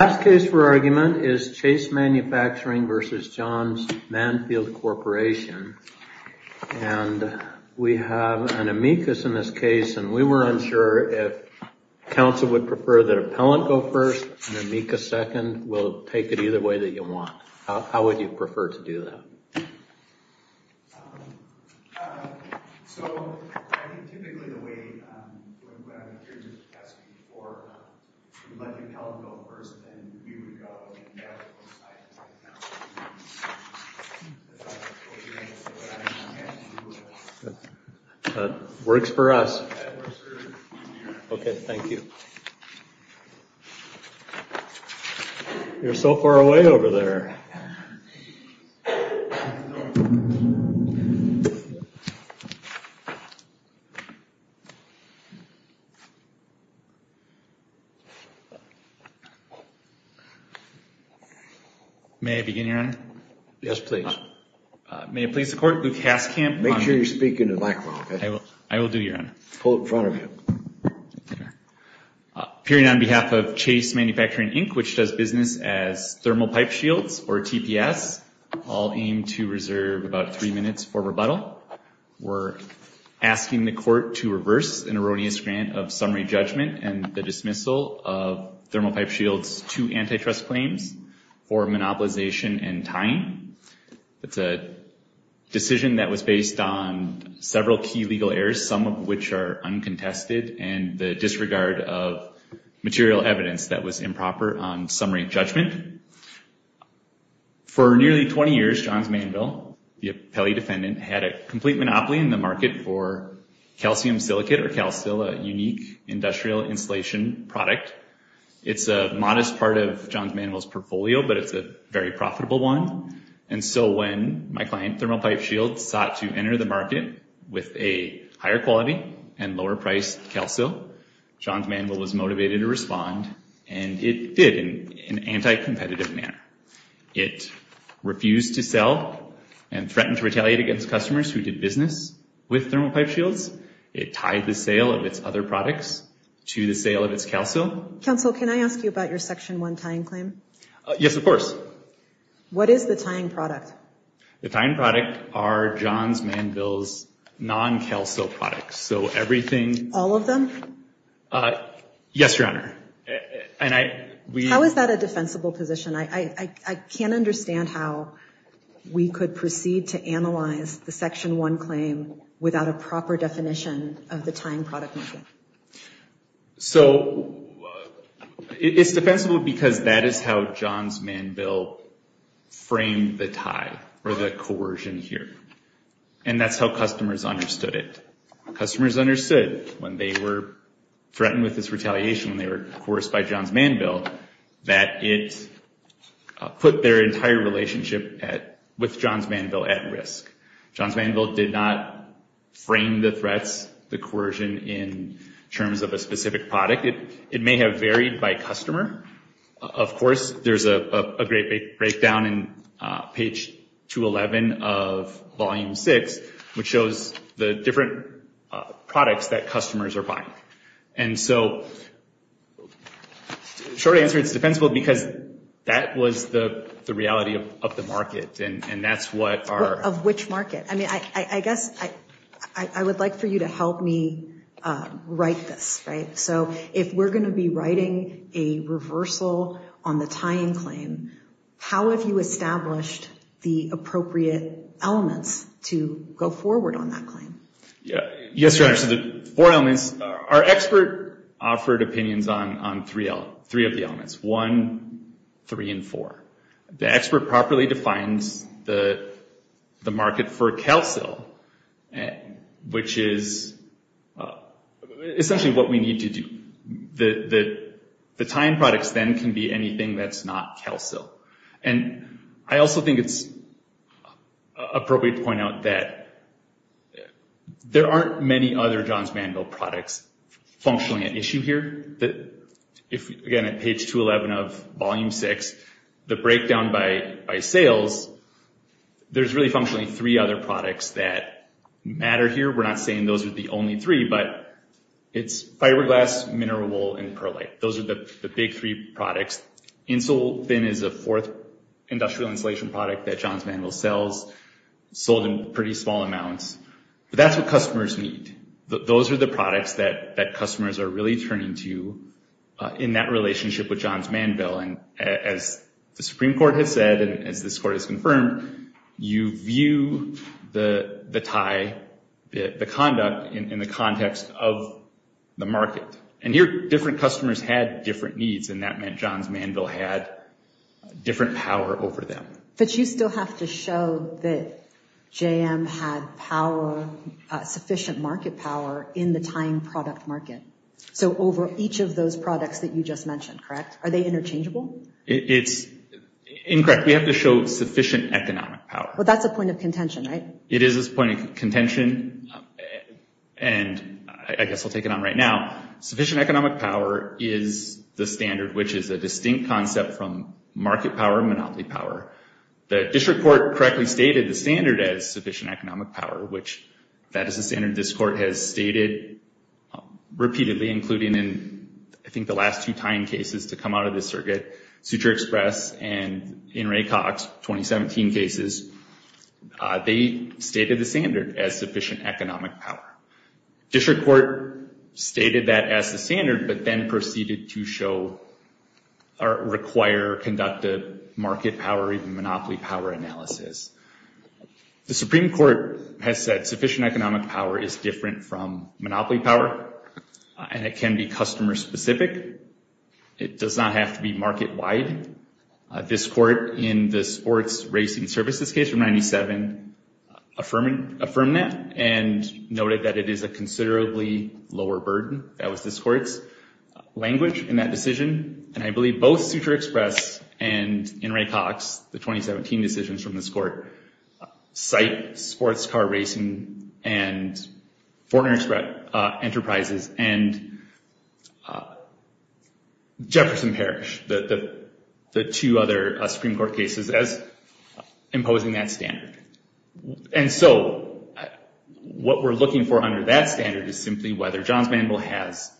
Last case for argument is Chase Manufacturing v. Johns Manville Corporation and we have an amicus in this case and we were unsure if counsel would prefer that appellant go first and amicus second, we'll take it either way that you want, how would you prefer to do that? Works for us. Okay, thank you. You're so far away over there. May I begin, Your Honor? Yes, please. May I please support Lukasz Kamp? Make sure you speak into the microphone, okay? I will do, Your Honor. Pull it in front of you. Appearing on behalf of Chase Manufacturing, Inc., which does business as Thermal Pipe Shields or TPS, I'll aim to reserve about three minutes for rebuttal. We're asking the court to reverse an erroneous grant of summary judgment and the dismissal of Thermal Pipe Shields two antitrust claims for monopolization and tying. It's a decision that was based on several key legal errors, some of which are uncontested, and the disregard of material evidence that was improper on summary judgment. For nearly 20 years, Johns Manville, the appellee defendant, had a complete monopoly in the market for calcium silicate or CalSil, a unique industrial insulation product. It's a modest part of Johns Manville's portfolio, but it's a very profitable one. And so when my client, Thermal Pipe Shields, sought to enter the market with a higher quality and lower priced CalSil, Johns Manville was motivated to respond, and it did in an anti-competitive manner. It refused to sell and threatened to retaliate against customers who did business with Thermal Pipe Shields. It tied the sale of its other products to the sale of its CalSil. Counsel, can I ask you about your section one tying claim? Yes, of course. What is the tying product? The tying product are Johns Manville's non-CalSil products, so everything... All of them? Yes, Your Honor. How is that a defensible position? I can't understand how we could proceed to analyze the section one claim without a proper definition of the tying product. So it's defensible because that is how Johns Manville framed the tie or the coercion here, and that's how customers understood it. Customers understood when they were threatened with this retaliation, when they were coerced by Johns Manville, that it put their entire relationship with Johns Manville at risk. Johns Manville did not frame the threats, the coercion, in terms of a specific product. It may have varied by customer. Of course, there's a great big breakdown in page 211 of Volume 6, which shows the different products that customers are buying. And so, short answer, it's defensible because that was the reality of the market, and that's what our... I guess I would like for you to help me write this, right? So if we're going to be writing a reversal on the tying claim, how have you established the appropriate elements to go forward on that claim? Yes, Your Honor. So the four elements... Our expert offered opinions on three of the elements, one, three, and four. The expert properly defines the market for CalSill, which is essentially what we need to do. The tying products then can be anything that's not CalSill. And I also think it's appropriate to point out that there aren't many other Johns Manville products functioning at issue here. Again, at page 211 of the sales, there's really functionally three other products that matter here. We're not saying those are the only three, but it's fiberglass, mineral wool, and perlite. Those are the big three products. InsulFin is a fourth industrial insulation product that Johns Manville sells, sold in pretty small amounts. But that's what customers need. Those are the products that customers are really turning to in that relationship with Johns Manville. And as the court has confirmed, you view the tie, the conduct, in the context of the market. And here, different customers had different needs, and that meant Johns Manville had different power over them. But you still have to show that JM had sufficient market power in the tying product market. So over each of those products that you just mentioned, you have sufficient economic power. Well, that's a point of contention, right? It is a point of contention, and I guess I'll take it on right now. Sufficient economic power is the standard, which is a distinct concept from market power and monopoly power. The district court correctly stated the standard as sufficient economic power, which that is a standard this court has stated repeatedly, including in I think the last two tying cases to come out of this circuit, Suture Express and in Ray Cox, 2017 cases, they stated the standard as sufficient economic power. District court stated that as the standard, but then proceeded to show or require, conduct a market power, even monopoly power analysis. The Supreme Court has said sufficient economic power is different from monopoly power, and it can be customer specific. It does not have to be market wide. This court in the sports racing services case from 97 affirmed that and noted that it is a considerably lower burden. That was this court's language in that decision. And I believe both Suture Express and in Ray Cox, the 2017 decisions from this court, cite sports car racing and foreign express enterprises and Jefferson Parish, the two other Supreme Court cases as imposing that standard. And so what we're looking for under that standard is simply whether Johns Mandel has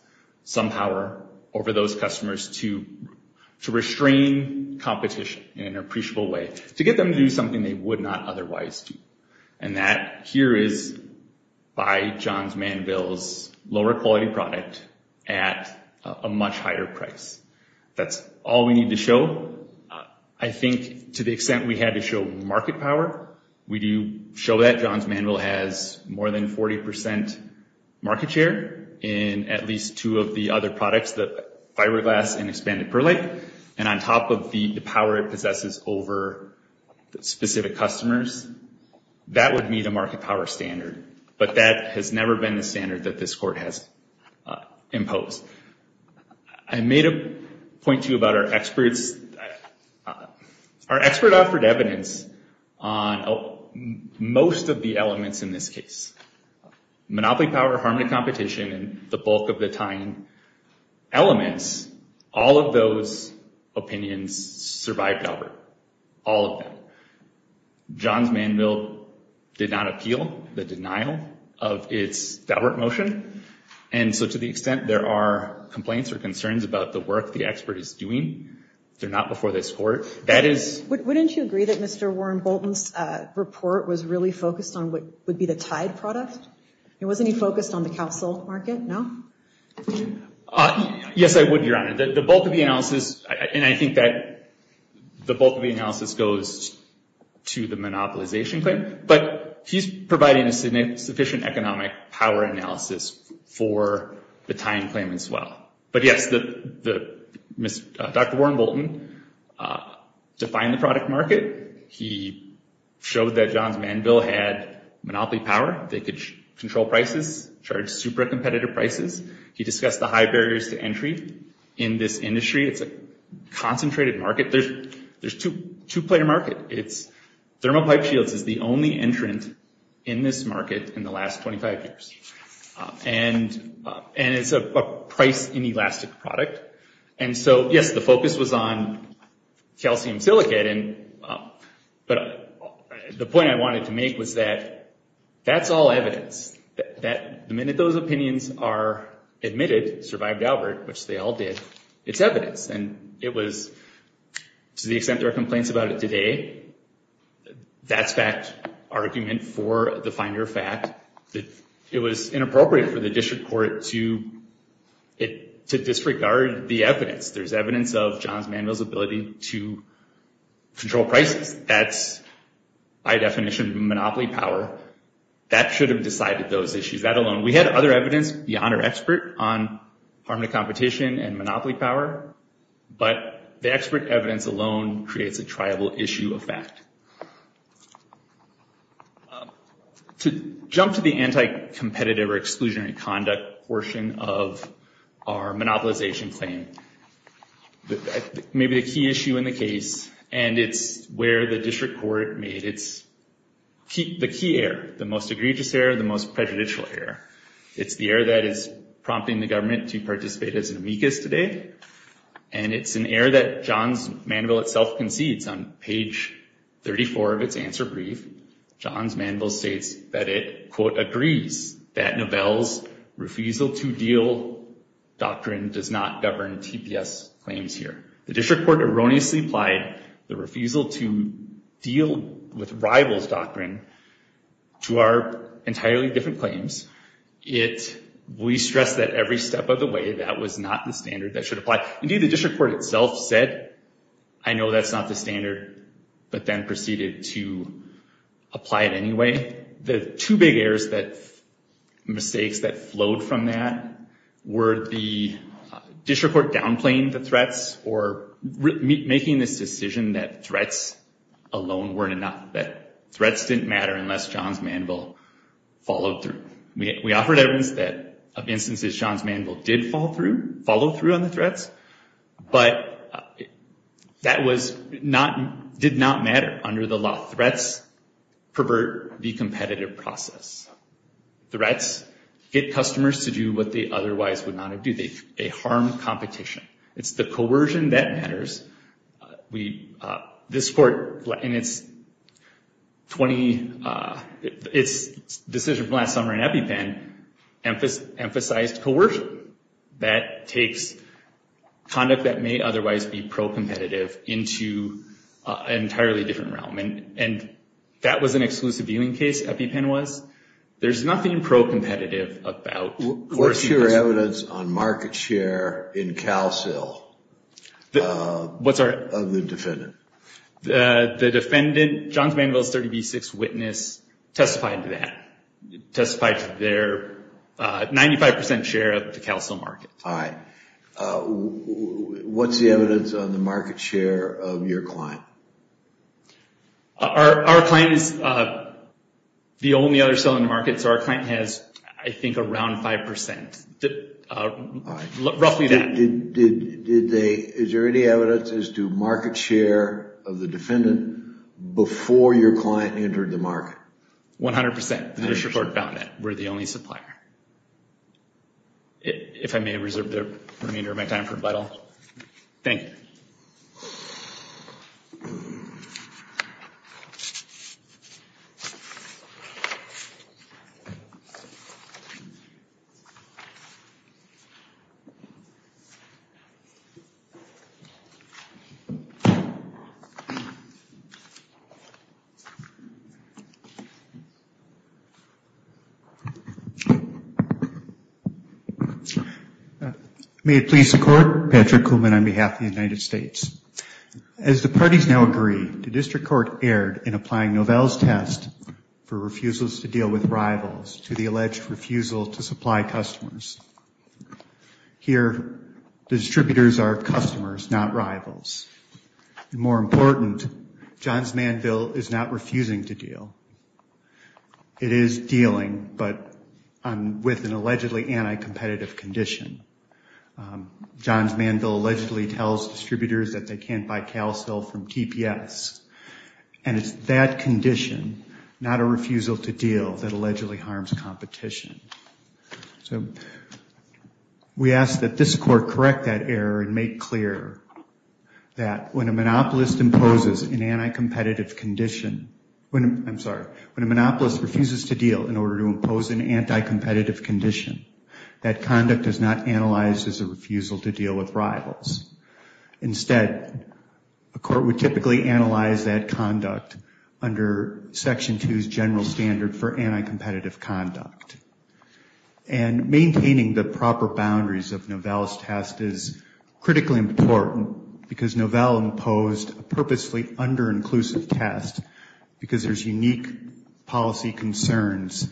some power over those customers to restrain competition in an appreciable way, to get them to do something they would not otherwise do. And that here is by Johns Mandel's lower quality product at a much higher price. That's all we need to show. I think to the extent we had to show market power, we do show that Johns Mandel has more than 40% market share in at least two of the other products, the fiberglass and expanded perlite. And on top of the power it possesses over specific customers, that would meet a market power standard. But that has never been the standard that this court has imposed. I made a point to you about our experts. Our expert offered evidence on most of the elements in this case. Monopoly power, harm to competition, and the bulk of the tying elements, all of those opinions survived Daubert. All of them. Johns Mandel did not appeal the denial of its Daubert motion. And so to the extent there are complaints or concerns about the work the expert is doing, they're not before this court. Wouldn't you agree that Mr. Warren Bolton's report was really focused on what would be the tied product? And wasn't he focused on the CalSilk market? No? Yes, I would, Your Honor. The bulk of the analysis, and I think that the bulk of the analysis goes to the monopolization claim. But he's providing a sufficient economic power analysis for the tying claim as well. But yes, Dr. Warren Bolton defined the product market. He showed that Johns Mandel had monopoly power. They could control prices, charge super competitive prices. He discussed the high barriers to entry in this industry. It's a concentrated market. There's two-player market. Thermal pipe shields is the only entrant in this market in the last 25 years. And it's a price inelastic product. And so yes, the focus was on calcium silicate. But the point I wanted to make was that that's all evidence. The minute those opinions are admitted, survived Albert, which they all did, it's evidence. And it was, to the extent there are complaints about it today, that's fact argument for the finder fact that it was inappropriate for the district court to disregard the evidence. There's evidence of Johns Mandel's ability to control prices. That's by definition monopoly power. That should have decided those issues. That alone. We had other evidence beyond our expert on harm to competition and monopoly power. But the expert evidence alone creates a triable issue of fact. To jump to the anti-competitive or exclusionary conduct portion of our monopolization claim, maybe the key issue in the case, and it's where the district court made the key error, the most egregious error, the most prejudicial error. It's the error that is prompting the government to participate as an amicus today. And it's an error that Johns Mandel itself concedes on page 34 of its answer brief. Johns Mandel states that it, quote, agrees that Novell's refusal to deal doctrine does not govern TPS claims here. The district court erroneously applied the refusal to deal with rival's doctrine to our entirely different claims. It, we stress that every step of the way that was not the standard that should apply. Indeed, the district court itself said, I know that's not the standard, but then proceeded to apply it anyway. The two big errors that, mistakes that flowed from that were the district court downplaying the threats or making this decision that threats alone weren't enough, that threats didn't matter unless Johns Mandel followed through. We offered evidence that, of instances, Johns Mandel did follow through on the threats, but that did not matter under the law. Threats pervert the competitive process. Threats get customers to do what they otherwise would not have do. They harm competition. It's the coercion that matters. We, this court in its 20, its decision from last summer in EpiPen emphasized coercion. That takes conduct that may otherwise be pro-competitive into an entirely different realm, and that was an exclusive viewing case, EpiPen was. There's nothing pro-competitive about coercion. What's your evidence on market share in CalSIL of the defendant? The defendant, Johns Mandel's 30B6 witness testified to that, testified to their 95% share of the CalSIL market. All right. What's the evidence on the market share of your client? Our client is the only other cell in the market, so our client has, I think, around 5%. All right. Roughly that. Is there any evidence as to market share of the defendant before your client entered the market? 100%. The district court found that. We're the only supplier. If I may reserve the remainder of my time for a while. Thank you. May it please the Court. Patrick Kuhlman on behalf of the United States. The defendant is now acquitted. As the parties now agree, the district court erred in applying Novell's test for refusals to deal with rivals to the alleged refusal to supply customers. Here the distributors are customers, not rivals. More important, Johns Mandel is not refusing to deal. It is dealing, but with an allegedly anti-competitive condition. Johns Mandel allegedly tells distributors that they can't buy CalSIL from TPS, and it's that condition, not a refusal to deal, that allegedly harms competition. We ask that this Court correct that error and make clear that when a monopolist imposes an anti-competitive condition, I'm sorry, when a monopolist refuses to deal in order to impose an anti-competitive condition, that is, a refusal to supply customers. Instead, a court would typically analyze that conduct under Section 2's general standard for anti-competitive conduct. And maintaining the proper boundaries of Novell's test is critically important because Novell imposed a purposely under-inclusive test because there's unique policy concerns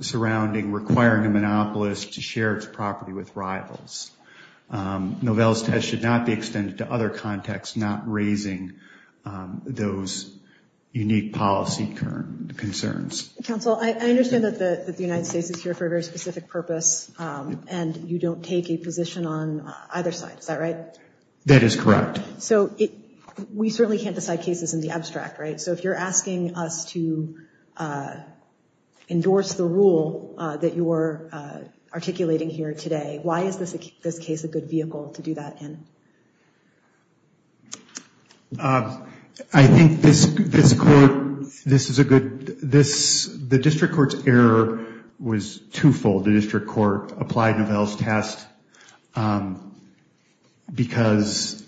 surrounding requiring a monopolist to share its property with rivals. Novell's test should not be extended to other contexts, not raising those unique policy concerns. Counsel, I understand that the United States is here for a very specific purpose, and you don't take a position on either side. Is that right? That is correct. So we certainly can't decide cases in the abstract, right? So if you're asking us to articulate here today, why is this case a good vehicle to do that in? I think this Court, this is a good, this, the District Court's error was two-fold. The District Court applied Novell's test because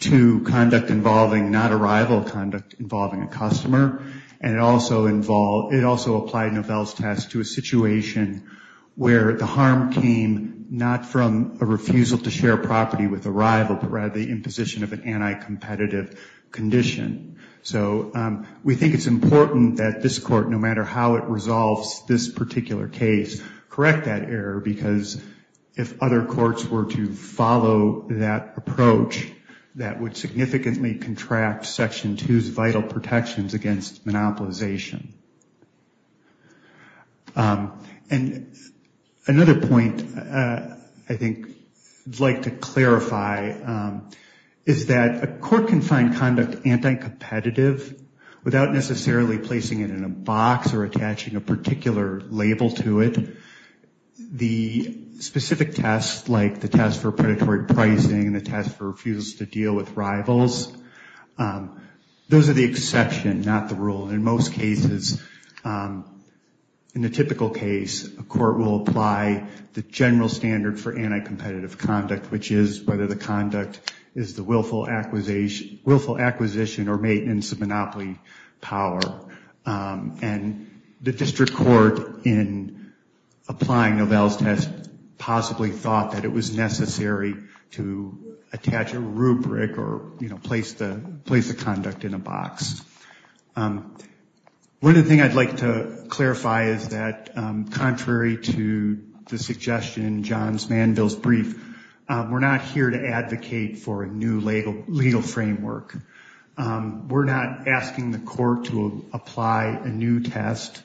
to conduct involving not a rival conduct involving a customer, and it also involved, it also applied Novell's test to a situation where the harm came not from a refusal to share property with a rival, but rather the imposition of an anti-competitive condition. So we think it's important that this Court, no matter how it resolves this particular case, correct that error because if other courts were to apply Novell's test, there would be exceptions against monopolization. And another point I think I'd like to clarify is that a Court can find conduct anti-competitive without necessarily placing it in a box or attaching a particular label to it. The specific tests like the test for predatory pricing and the test for refusal to deal with rivals, those are the exception, not the rule. In most cases, in the typical case, a Court will apply the general standard for anti-competitive conduct, which is whether the conduct is the willful acquisition or maintenance of monopoly power. And the District Court in applying the test will place the conduct in a box. One other thing I'd like to clarify is that contrary to the suggestion in John Manville's brief, we're not here to advocate for a new legal framework. We're not asking the Court to apply a new test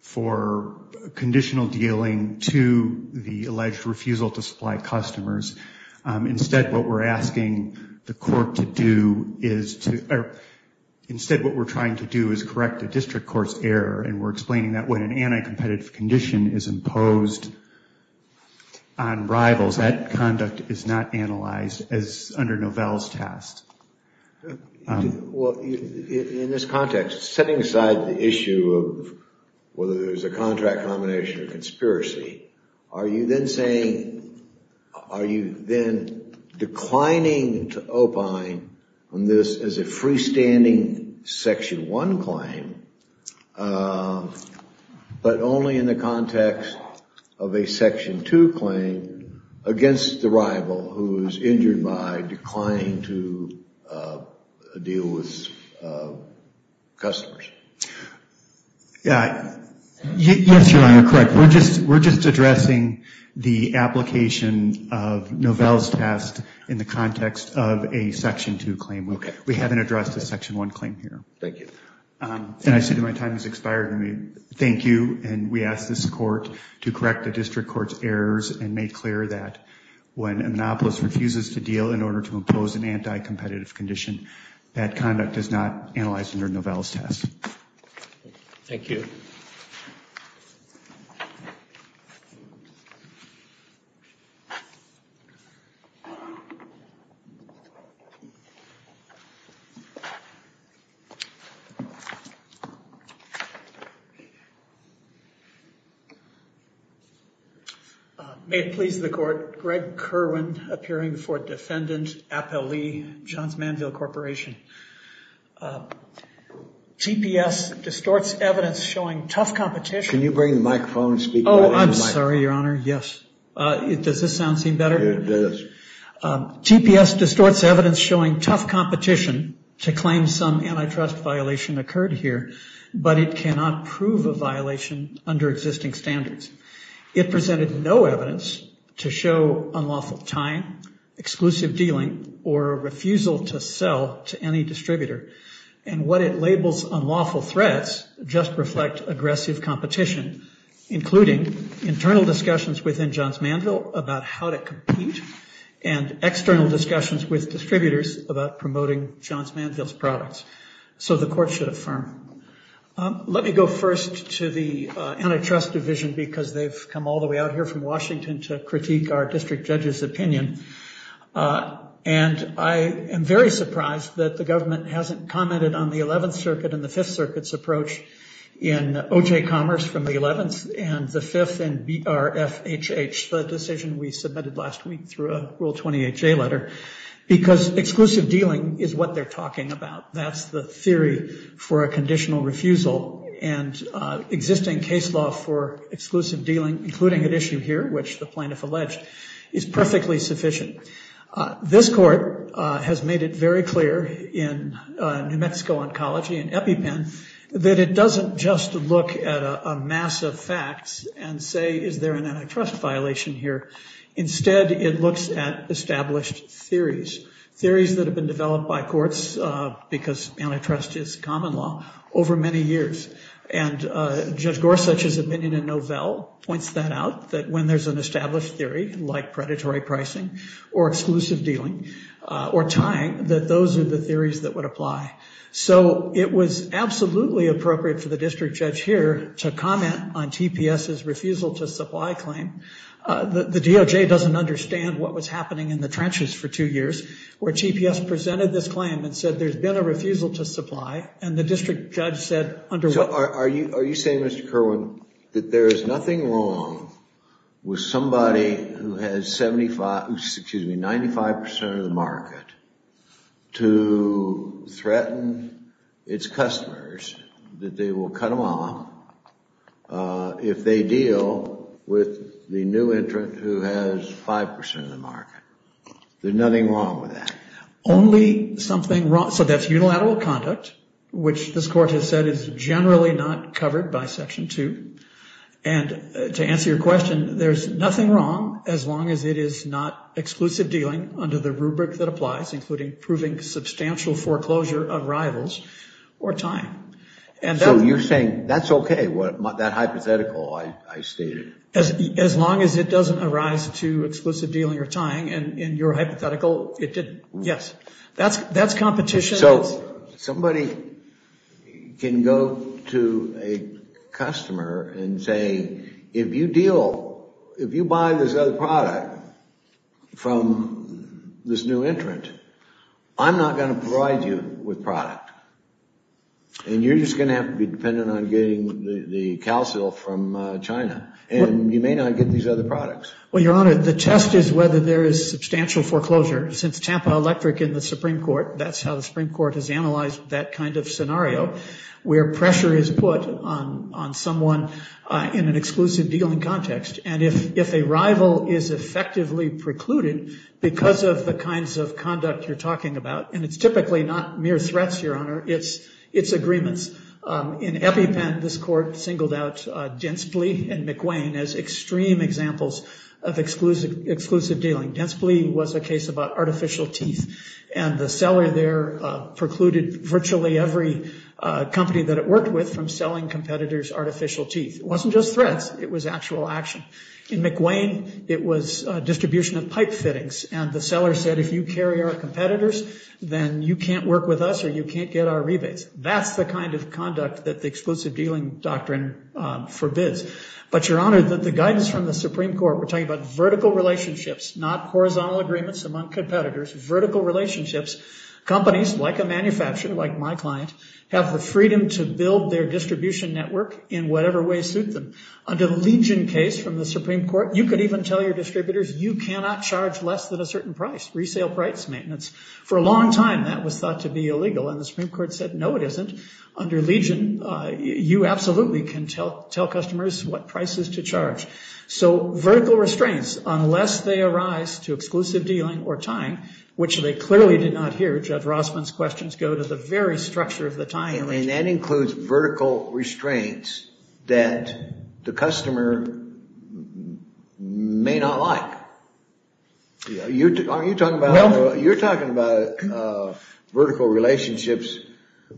for conditional dealing to the alleged refusal to supply customers. Instead, what we're asking the Court to do is to, instead what we're trying to do is correct the District Court's error and we're explaining that when an anti-competitive condition is imposed on rivals, that conduct is not analyzed as under Novell's test. Well, in this context, setting aside the issue of whether there's a contract combination or conspiracy, are you then saying, are you then declining to opine on this as a freestanding Section 1 claim, but only in the context of a Section 2 claim against the rival who is injured by declining to deal with customers? Yes, Your Honor, correct. We're just addressing the application of Novell's test in the context of a Section 2 claim. We haven't addressed a Section 1 claim here. Thank you. And I see that my time has expired. Thank you. And we ask this Court to correct the District Court's errors and make clear that when a monopolist refuses to deal in order to impose an anti-competitive condition, that conduct is not analyzed under Novell's test. Thank you. May it please the Court, Greg Kerwin, appearing before Defendant Appellee, Johns Manville Corporation. TPS distorts evidence showing tough competition to claim some antitrust violation occurred here, but it cannot prove a violation under existing standards. It presented no evidence to show unlawful time, exclusive dealing, or refusal to sell to any distributor. And what it labels unlawful threats just reflect aggressive competition, including internal discussions within Johns Manville about how to compete and external discussions with distributors about promoting Johns Manville's products. So the Court should affirm. Let me go first to the Antitrust Division, because they've come all the way out here from Washington to critique our district judge's opinion. And I am very surprised that the government hasn't commented on the 11th Circuit and the 5th Circuit's approach in OJ Commerce from the 11th and the 5th and BRFHH, the decision we submitted last week through a Rule 20HA letter. Because exclusive dealing is what they're talking about. That's the theory for a conditional refusal and existing case law for exclusive dealing, including at issue here, which the plaintiff alleged, is perfectly sufficient. This Court has made it very clear in New Mexico Oncology and EpiPen that it doesn't just look at a mass of facts and say, is there an antitrust violation here? Instead, it looks at established theories. Theories that have been developed by courts, because antitrust is common law, over many years. And Judge Gorsuch's opinion in Novell points that out, that when there's an established theory, like predatory pricing, or exclusive dealing, or tying, that those are the theories that would apply. So it was absolutely appropriate for the district judge here to comment on TPS's refusal to supply claim. The DOJ doesn't understand what was happening in the trenches for two years, where TPS presented this claim and said, there's been a refusal to supply, and the district judge said, under what... So are you saying, Mr. Kerwin, that there is nothing wrong with somebody who has 75, excuse me, 95% of the market to threaten its customers, that they will cut them off, if they deal with the district judge's refusal to supply? The new entrant who has 5% of the market. There's nothing wrong with that? Only something wrong... So that's unilateral conduct, which this Court has said is generally not covered by Section 2. And to answer your question, there's nothing wrong as long as it is not exclusive dealing under the rubric that applies, including proving substantial foreclosure of rivals or tying. So you're saying that's okay, that hypothetical I stated? As long as it doesn't arise to exclusive dealing or tying, and your hypothetical, it didn't. Yes. That's competition. So somebody can go to a customer and say, if you deal, if you buy this other product from this new entrant, I'm not going to provide you with product, and you're just going to have to be dependent on getting the calcil from China. And you may not get these other products. Well, Your Honor, the test is whether there is substantial foreclosure. Since Tampa Electric in the Supreme Court, that's how the Supreme Court has analyzed that kind of scenario, where pressure is put on someone in an exclusive dealing context. And if a rival is effectively precluded because of the kinds of conduct you're talking about, and it's typically not mere threats, Your Honor, it's agreements. In EpiPen, this court singled out Denspley and McWane as extreme examples of exclusive dealing. Denspley was a case about artificial teeth, and the seller there precluded virtually every company that it worked with from selling competitors artificial teeth. It wasn't just threats. It was actual action. In McWane, it was distribution of pipe fittings, and the seller said, if you carry our competitors, then you can't work with us or you can't get our rebates. That's the kind of conduct that the exclusive dealing doctrine forbids. But, Your Honor, the guidance from the Supreme Court, we're talking about vertical relationships, not horizontal agreements among competitors, vertical relationships. Companies, like a manufacturer, like my client, have the freedom to build their distribution network in whatever way suits them. Under the Legion case from the Supreme Court, you could even tell your distributors, you cannot charge less than a certain price, resale price maintenance. For a long time, that was thought to be illegal, and the Supreme Court said, no, it isn't. Under Legion, you absolutely can tell customers what prices to charge. So vertical restraints, unless they arise to exclusive dealing or tying, which they clearly did not hear Judge Rossman's questions go to the very structure of the tying. And that includes vertical restraints that the customer may not like. You're talking about vertical relationships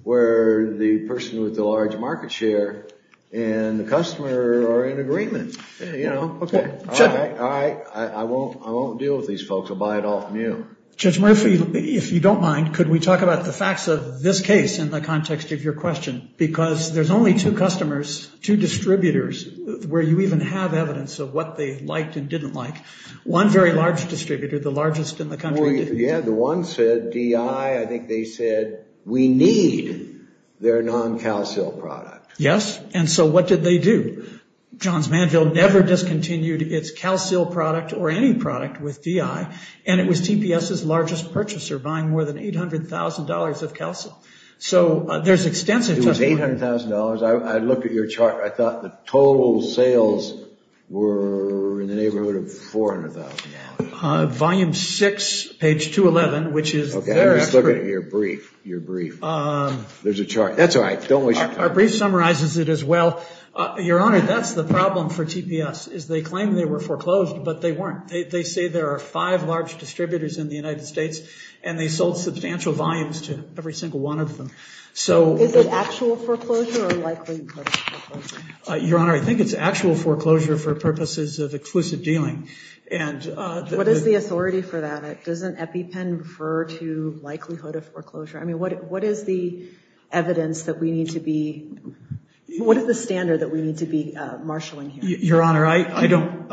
where the person with the large market share and the customer are in agreement. You know, OK, all right, I won't deal with these folks. I'll buy it all from you. Judge Murphy, if you don't mind, could we talk about the facts of this case in the context of your question? Because there's only two customers, two distributors, where you even have evidence of what they liked and didn't like. One very large distributor, the largest in the country. Yeah, the one said, DI, I think they said, we need their non-calcil product. Yes, and so what did they do? Johns Manville never discontinued its calcil product or any product with DI, and it was TPS's largest purchaser, buying more than $800,000 of calcil. So there's extensive... I looked at your chart. I thought the total sales were in the neighborhood of $400,000. Volume 6, page 211, which is... OK, let's look at your brief. Your brief. There's a chart. That's all right. Our brief summarizes it as well. Your Honor, that's the problem for TPS, is they claim they were foreclosed, but they weren't. They say there are five large distributors in the United States, and they sold substantial volumes to every single one of them. Is it actual foreclosure or likely foreclosure? Your Honor, I think it's actual foreclosure for purposes of exclusive dealing. What is the authority for that? Doesn't EpiPen refer to likelihood of foreclosure? I mean, what is the evidence that we need to be... What is the standard that we need to be marshalling here? Your Honor, I don't...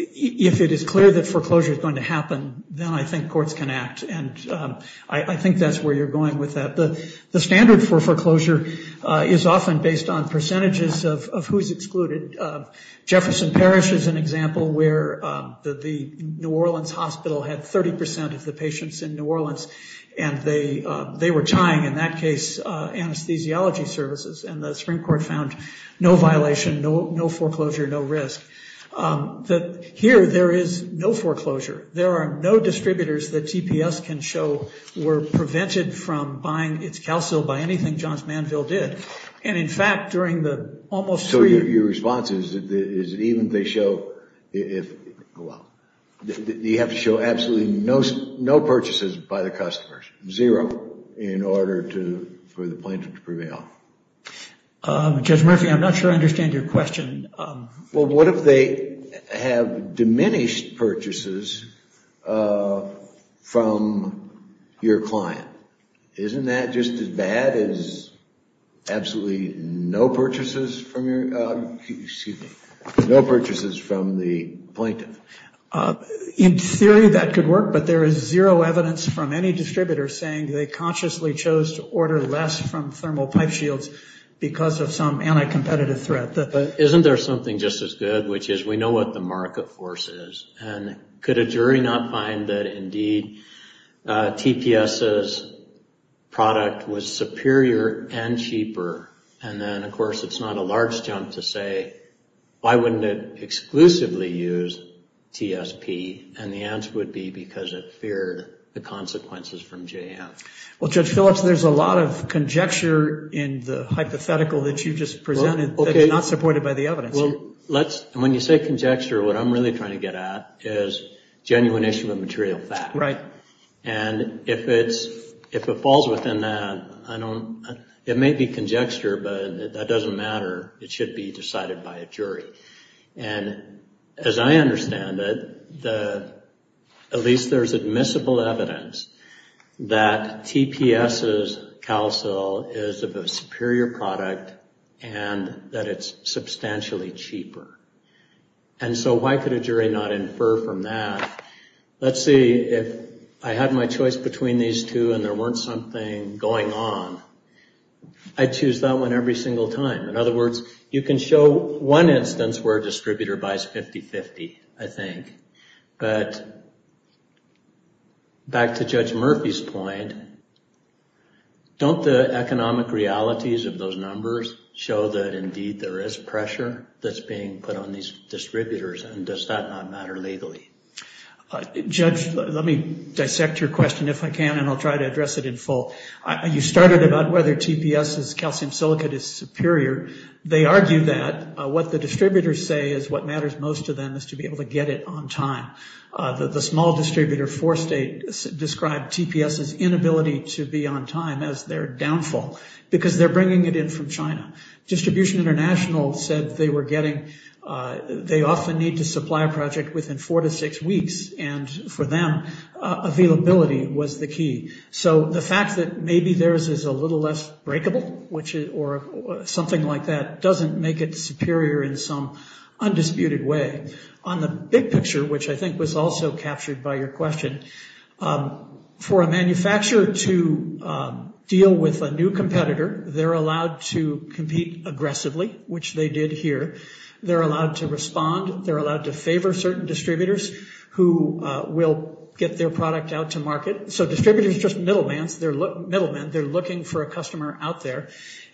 If it is clear that foreclosure is going to happen, then I think courts can act, and I think that's where you're going with that. The standard for foreclosure is often based on percentages of who's excluded. Jefferson Parish is an example where the New Orleans hospital had 30% of the patients in New Orleans, and they were tying, in that case, anesthesiology services, and the Supreme Court found no violation, no foreclosure, no risk. Here, there is no foreclosure. There are no distributors that TPS can show were prevented from buying its calcil by anything Johns Manville did. And, in fact, during the almost... So your response is that even if they show... Well, you have to show absolutely no purchases by the customers, zero in order for the plaintiff to prevail. Judge Murphy, I'm not sure I understand your question. Well, what if they have diminished purchases from your client? Isn't that just as bad as absolutely no purchases from your... Excuse me. No purchases from the plaintiff? In theory, that could work, but there is zero evidence from any distributor saying they consciously chose to order less from thermal pipe shields because of some anti-competitive threat. Isn't there something just as good, which is we know what the market force is, and could a jury not find that, indeed, TPS's product was superior and cheaper? And then, of course, it's not a large jump to say, why wouldn't it exclusively use TSP? And the answer would be because it feared the consequences from JF. Well, Judge Phillips, there's a lot of conjecture in the hypothetical that you just presented that's not supported by the evidence here. When you say conjecture, what I'm really trying to get at is genuination of a material fact. Right. And if it falls within that, it may be conjecture, but that doesn't matter. It should be decided by a jury. And as I understand it, at least there's admissible evidence that TPS's CalSil is a superior product and that it's substantially cheaper. And so why could a jury not infer from that? Let's see, if I had my choice between these two and there weren't something going on, I'd choose that one every single time. In other words, you can show one instance where a distributor buys 50-50, I think. But back to Judge Murphy's point, don't the economic realities of those numbers show that, indeed, there is pressure that's being put on these distributors, and does that not matter legally? Judge, let me dissect your question if I can, and I'll try to address it in full. You started about whether TPS's CalSil is superior. They argue that what the distributors say is what matters most to them, is to be able to get it on time. The small distributor, Forestate, described TPS's inability to be on time as their downfall because they're bringing it in from China. Distribution International said they often need to supply a project within four to six weeks, and for them, availability was the key. So the fact that maybe theirs is a little less breakable or something like that doesn't make it superior in some undisputed way. On the big picture, which I think was also captured by your question, for a manufacturer to deal with a new competitor, they're allowed to compete aggressively, which they did here. They're allowed to respond. They're allowed to favor certain distributors who will get their product out to market. So distributors are just middlemen. They're middlemen. They're looking for a customer out there.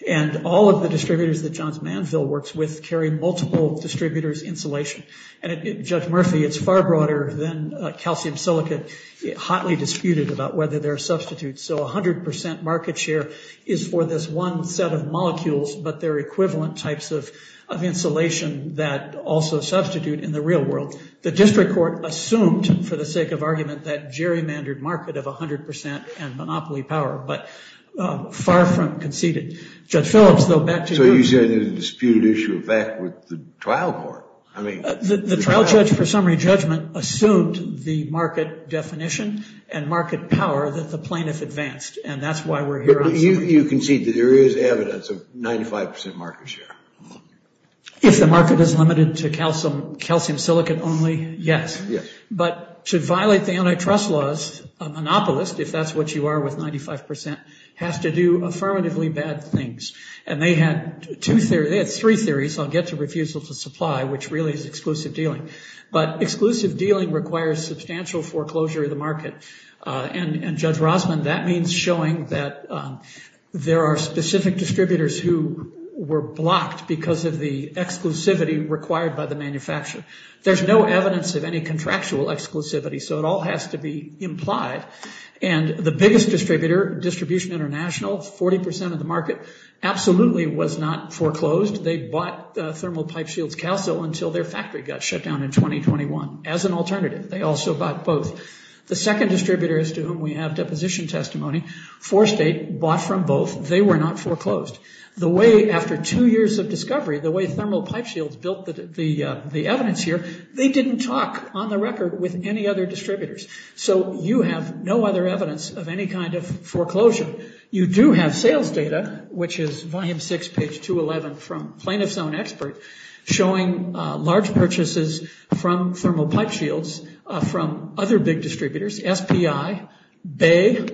And all of the distributors that Johns Manville works with carry multiple distributors' insulation. And at Judge Murphy, it's far broader than calcium silicate. It's hotly disputed about whether there are substitutes. So 100% market share is for this one set of molecules, but there are equivalent types of insulation that also substitute in the real world. The district court assumed, for the sake of argument, that gerrymandered market of 100% and monopoly power, but far from conceded. Judge Phillips, though, back to you. So you're saying there's a disputed issue of fact with the trial court? The trial judge, for summary judgment, assumed the market definition and market power that the plaintiff advanced, and that's why we're here. You concede that there is evidence of 95% market share. If the market is limited to calcium silicate only, yes. But to violate the antitrust laws, a monopolist, if that's what you are with 95%, has to do affirmatively bad things. And they had three theories on get to refusal to supply, which really is exclusive dealing. But exclusive dealing requires substantial foreclosure of the market. And, Judge Rosman, that means showing that there are specific distributors who were blocked because of the exclusivity required by the manufacturer. There's no evidence of any contractual exclusivity, so it all has to be implied. And the biggest distributor, Distribution International, 40% of the market, absolutely was not foreclosed. They bought Thermal Pipe Shields Calcil until their factory got shut down in 2021. As an alternative, they also bought both. The second distributors to whom we have deposition testimony, Forestate bought from both. They were not foreclosed. The way, after two years of discovery, the way Thermal Pipe Shields built the evidence here, they didn't talk on the record with any other distributors. So you have no other evidence of any kind of foreclosure. You do have sales data, which is volume six, page 211 from Plaintiff's own expert, showing large purchases from Thermal Pipe Shields from other big distributors, SPI, Bay,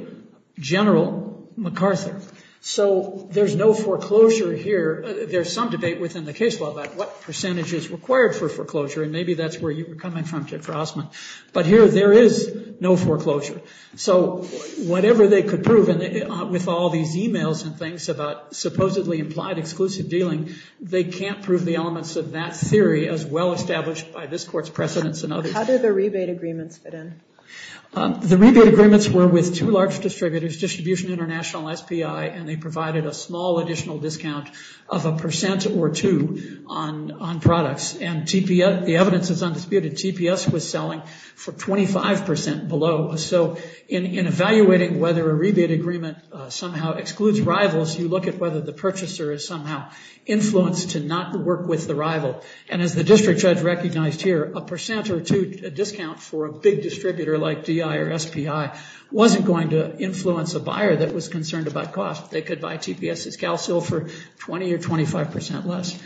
General, MacArthur. So there's no foreclosure here. There's some debate within the case law about what percentage is required for foreclosure, and maybe that's where you were coming from, Judge Rosman. But here, there is no foreclosure. So whatever they could prove, and with all these e-mails and things about supposedly implied exclusive dealing, they can't prove the elements of that theory as well established by this Court's precedence and others. How did the rebate agreements fit in? The rebate agreements were with two large distributors, Distribution International, SPI, and they provided a small additional discount of a percent or two on products. And the evidence is undisputed. TPS was selling for 25% below. So in evaluating whether a rebate agreement somehow excludes rivals, you look at whether the purchaser is somehow influenced to not work with the rival. And as the district judge recognized here, a percent or two discount for a big distributor like DI or SPI wasn't going to influence a buyer that was concerned about cost. They could buy TPS's CalSil for 20% or 25% less.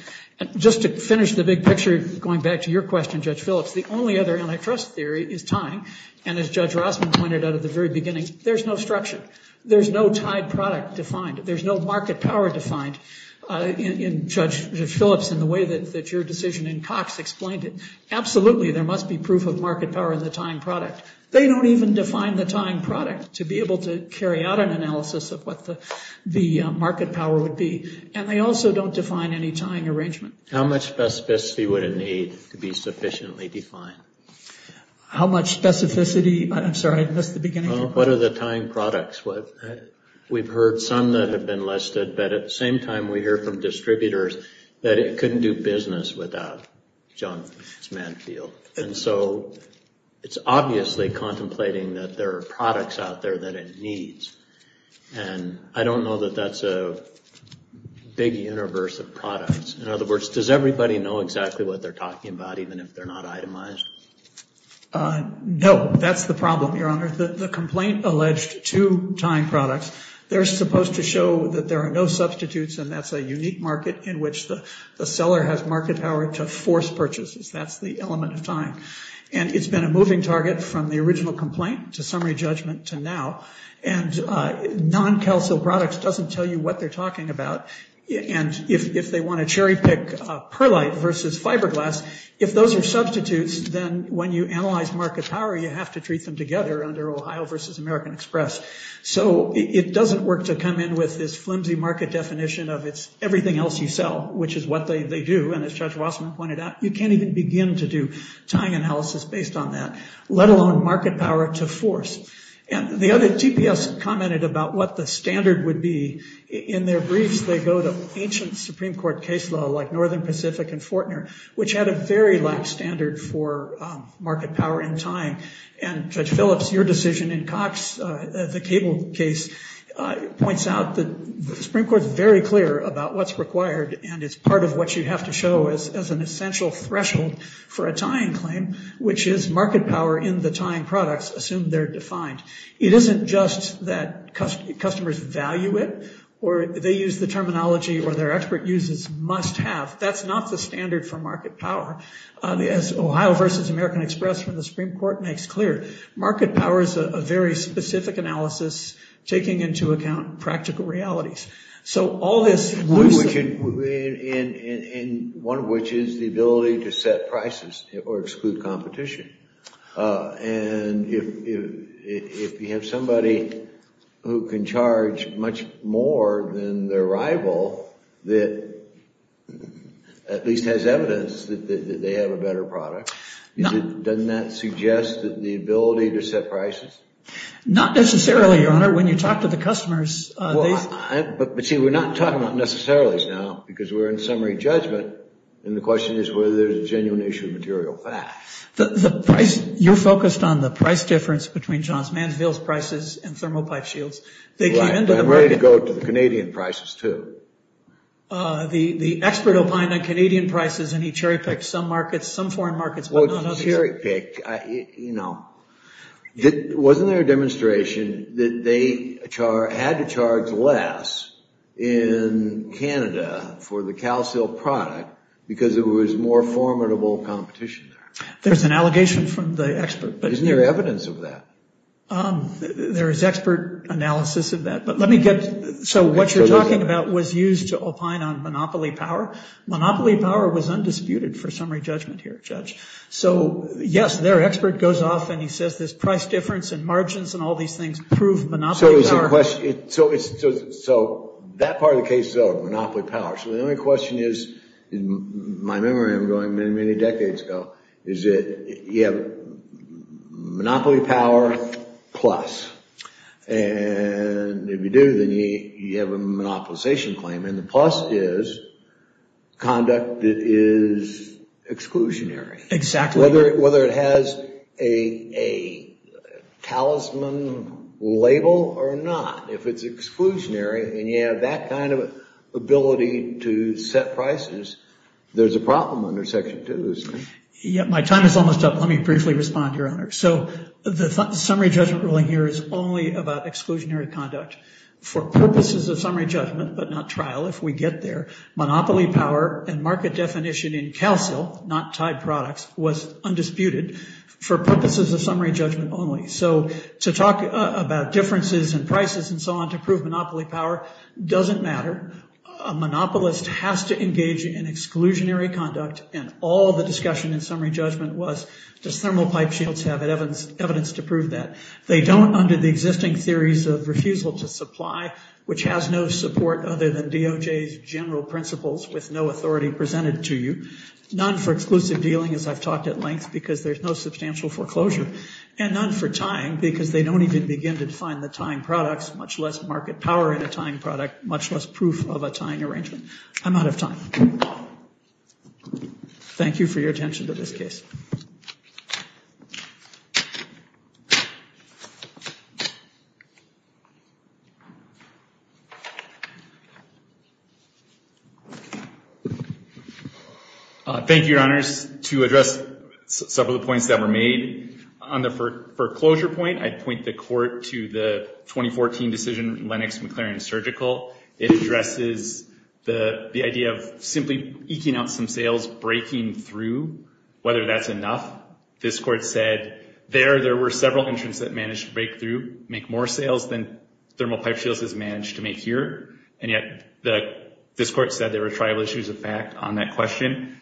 Just to finish the big picture, going back to your question, Judge Phillips, the only other antitrust theory is tying. And as Judge Rossman pointed out at the very beginning, there's no structure. There's no tied product defined. There's no market power defined in Judge Phillips in the way that your decision in Cox explained it. Absolutely, there must be proof of market power in the tying product. They don't even define the tying product to be able to carry out an analysis of what the market power would be. And they also don't define any tying arrangement. How much specificity would it need to be sufficiently defined? How much specificity? I'm sorry, I missed the beginning. What are the tying products? We've heard some that have been listed, but at the same time we hear from distributors that it couldn't do business without John Manfield. And so it's obviously contemplating that there are products out there that it needs. And I don't know that that's a big universe of products. In other words, does everybody know exactly what they're talking about, even if they're not itemized? No, that's the problem, Your Honor. The complaint alleged two tying products. They're supposed to show that there are no substitutes, and that's a unique market in which the seller has market power to force purchases. That's the element of tying. And it's been a moving target from the original complaint to summary judgment to now. And non-CalSIL products doesn't tell you what they're talking about. And if they want to cherry pick Perlite versus fiberglass, if those are substitutes, then when you analyze market power you have to treat them together under Ohio versus American Express. So it doesn't work to come in with this flimsy market definition of it's everything else you sell, which is what they do. And as Judge Wasserman pointed out, you can't even begin to do tying analysis based on that, let alone market power to force. And the other TPS commented about what the standard would be. In their briefs they go to ancient Supreme Court case law like Northern Pacific and Fortner, which had a very lax standard for market power in tying. And, Judge Phillips, your decision in Cox, the cable case, points out that the Supreme Court is very clear about what's required, and it's part of what you have to show as an essential threshold for a tying claim, which is market power in the tying products, assumed they're defined. It isn't just that customers value it, or they use the terminology, or their expert uses must have. That's not the standard for market power. As Ohio versus American Express from the Supreme Court makes clear, market power is a very specific analysis taking into account practical realities. One of which is the ability to set prices or exclude competition. And if you have somebody who can charge much more than their rival, that at least has evidence that they have a better product, doesn't that suggest the ability to set prices? Not necessarily, Your Honor. Your Honor, when you talk to the customers. But, see, we're not talking about necessarilies now, because we're in summary judgment, and the question is whether there's a genuine issue of material facts. The price, you focused on the price difference between Johns Mansfield's prices and Thermopyte Shields. I'm ready to go to the Canadian prices, too. The expert opined on Canadian prices, and he cherry-picked some markets, some foreign markets, but not others. I didn't cherry-pick, you know. Wasn't there a demonstration that they had to charge less in Canada for the CalSil product because it was more formidable competition there? There's an allegation from the expert. Isn't there evidence of that? There is expert analysis of that. So what you're talking about was used to opine on monopoly power. Monopoly power was undisputed for summary judgment here, Judge. So, yes, their expert goes off and he says this price difference and margins and all these things prove monopoly power. So that part of the case, though, monopoly power. So the only question is, in my memory, I'm going many, many decades ago, is that you have monopoly power plus. And if you do, then you have a monopolization claim, and the plus is conduct that is exclusionary. Exactly. Whether it has a talisman label or not, if it's exclusionary and you have that kind of ability to set prices, there's a problem under Section 2, isn't there? My time is almost up. Let me briefly respond, Your Honor. So the summary judgment ruling here is only about exclusionary conduct for purposes of summary judgment, but not trial if we get there. Monopoly power and market definition in CALCIL, not tied products, was undisputed for purposes of summary judgment only. So to talk about differences in prices and so on to prove monopoly power doesn't matter. A monopolist has to engage in exclusionary conduct, and all the discussion in summary judgment was, does Thermal Pipe Shields have evidence to prove that? They don't under the existing theories of refusal to supply, which has no support other than DOJ's general principles with no authority presented to you. None for exclusive dealing, as I've talked at length, because there's no substantial foreclosure. And none for tying because they don't even begin to define the tying products, much less market power in a tying product, much less proof of a tying arrangement. I'm out of time. Thank you for your attention to this case. Thank you, Your Honors. To address several of the points that were made, on the foreclosure point, I'd point the court to the 2014 decision, Lennox-McClaren Surgical. It addresses the idea of simply eking out some sales, breaking through, whether that's enough. This court said there, there were several entrants that managed to break through, make more sales than Thermal Pipe Shields has managed to make here, and yet this court said there were tribal issues of fact on that question.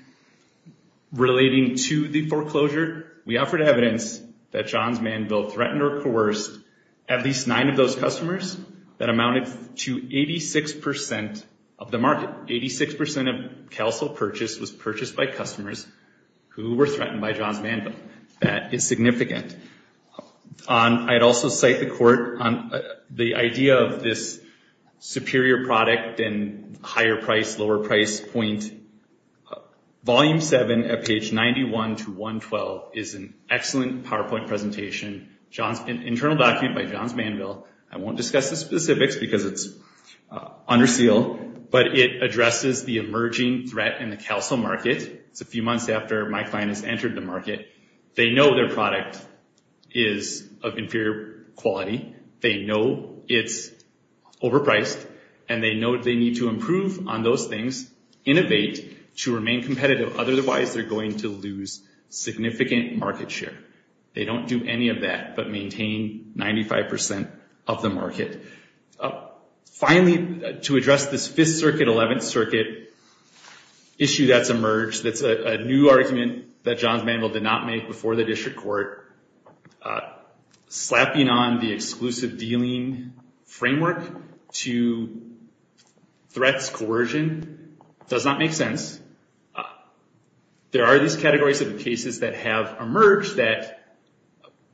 Relating to the foreclosure, we offered evidence that John's man built threatened or coerced at least nine of those customers that amounted to 86% of the market. 86% of CalSol purchase was purchased by customers who were threatened by John's man built. That is significant. I'd also cite the court on the idea of this superior product and higher price, lower price point. Volume 7 at page 91 to 112 is an excellent PowerPoint presentation. Internal document by John's man built. I won't discuss the specifics because it's under seal, but it addresses the emerging threat in the CalSol market. It's a few months after my client has entered the market. They know their product is of inferior quality. They know it's overpriced, and they know they need to improve on those things, innovate to remain competitive, otherwise they're going to lose significant market share. They don't do any of that but maintain 95% of the market. Finally, to address this 5th Circuit, 11th Circuit issue that's emerged, that's a new argument that John's man built did not make before the district court. Slapping on the exclusive dealing framework to threats coercion does not make sense. There are these categories of cases that have emerged that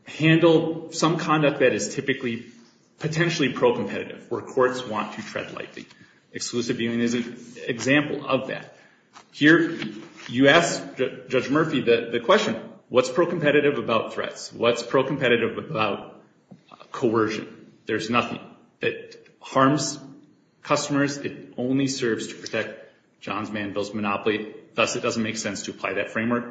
handle some conduct that is typically potentially pro-competitive where courts want to tread lightly. Exclusive dealing is an example of that. Here you ask Judge Murphy the question, what's pro-competitive about threats? What's pro-competitive about coercion? There's nothing. It harms customers. It only serves to protect John's man built monopoly, thus it doesn't make sense to apply that framework.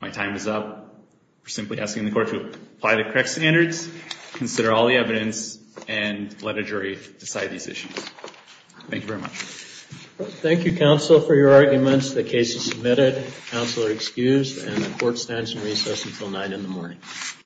My time is up. We're simply asking the court to apply the correct standards, consider all the evidence, and let a jury decide these issues. Thank you very much. Thank you, counsel, for your arguments. The case is submitted. Counsel are excused, and the court stands in recess until 9 in the morning.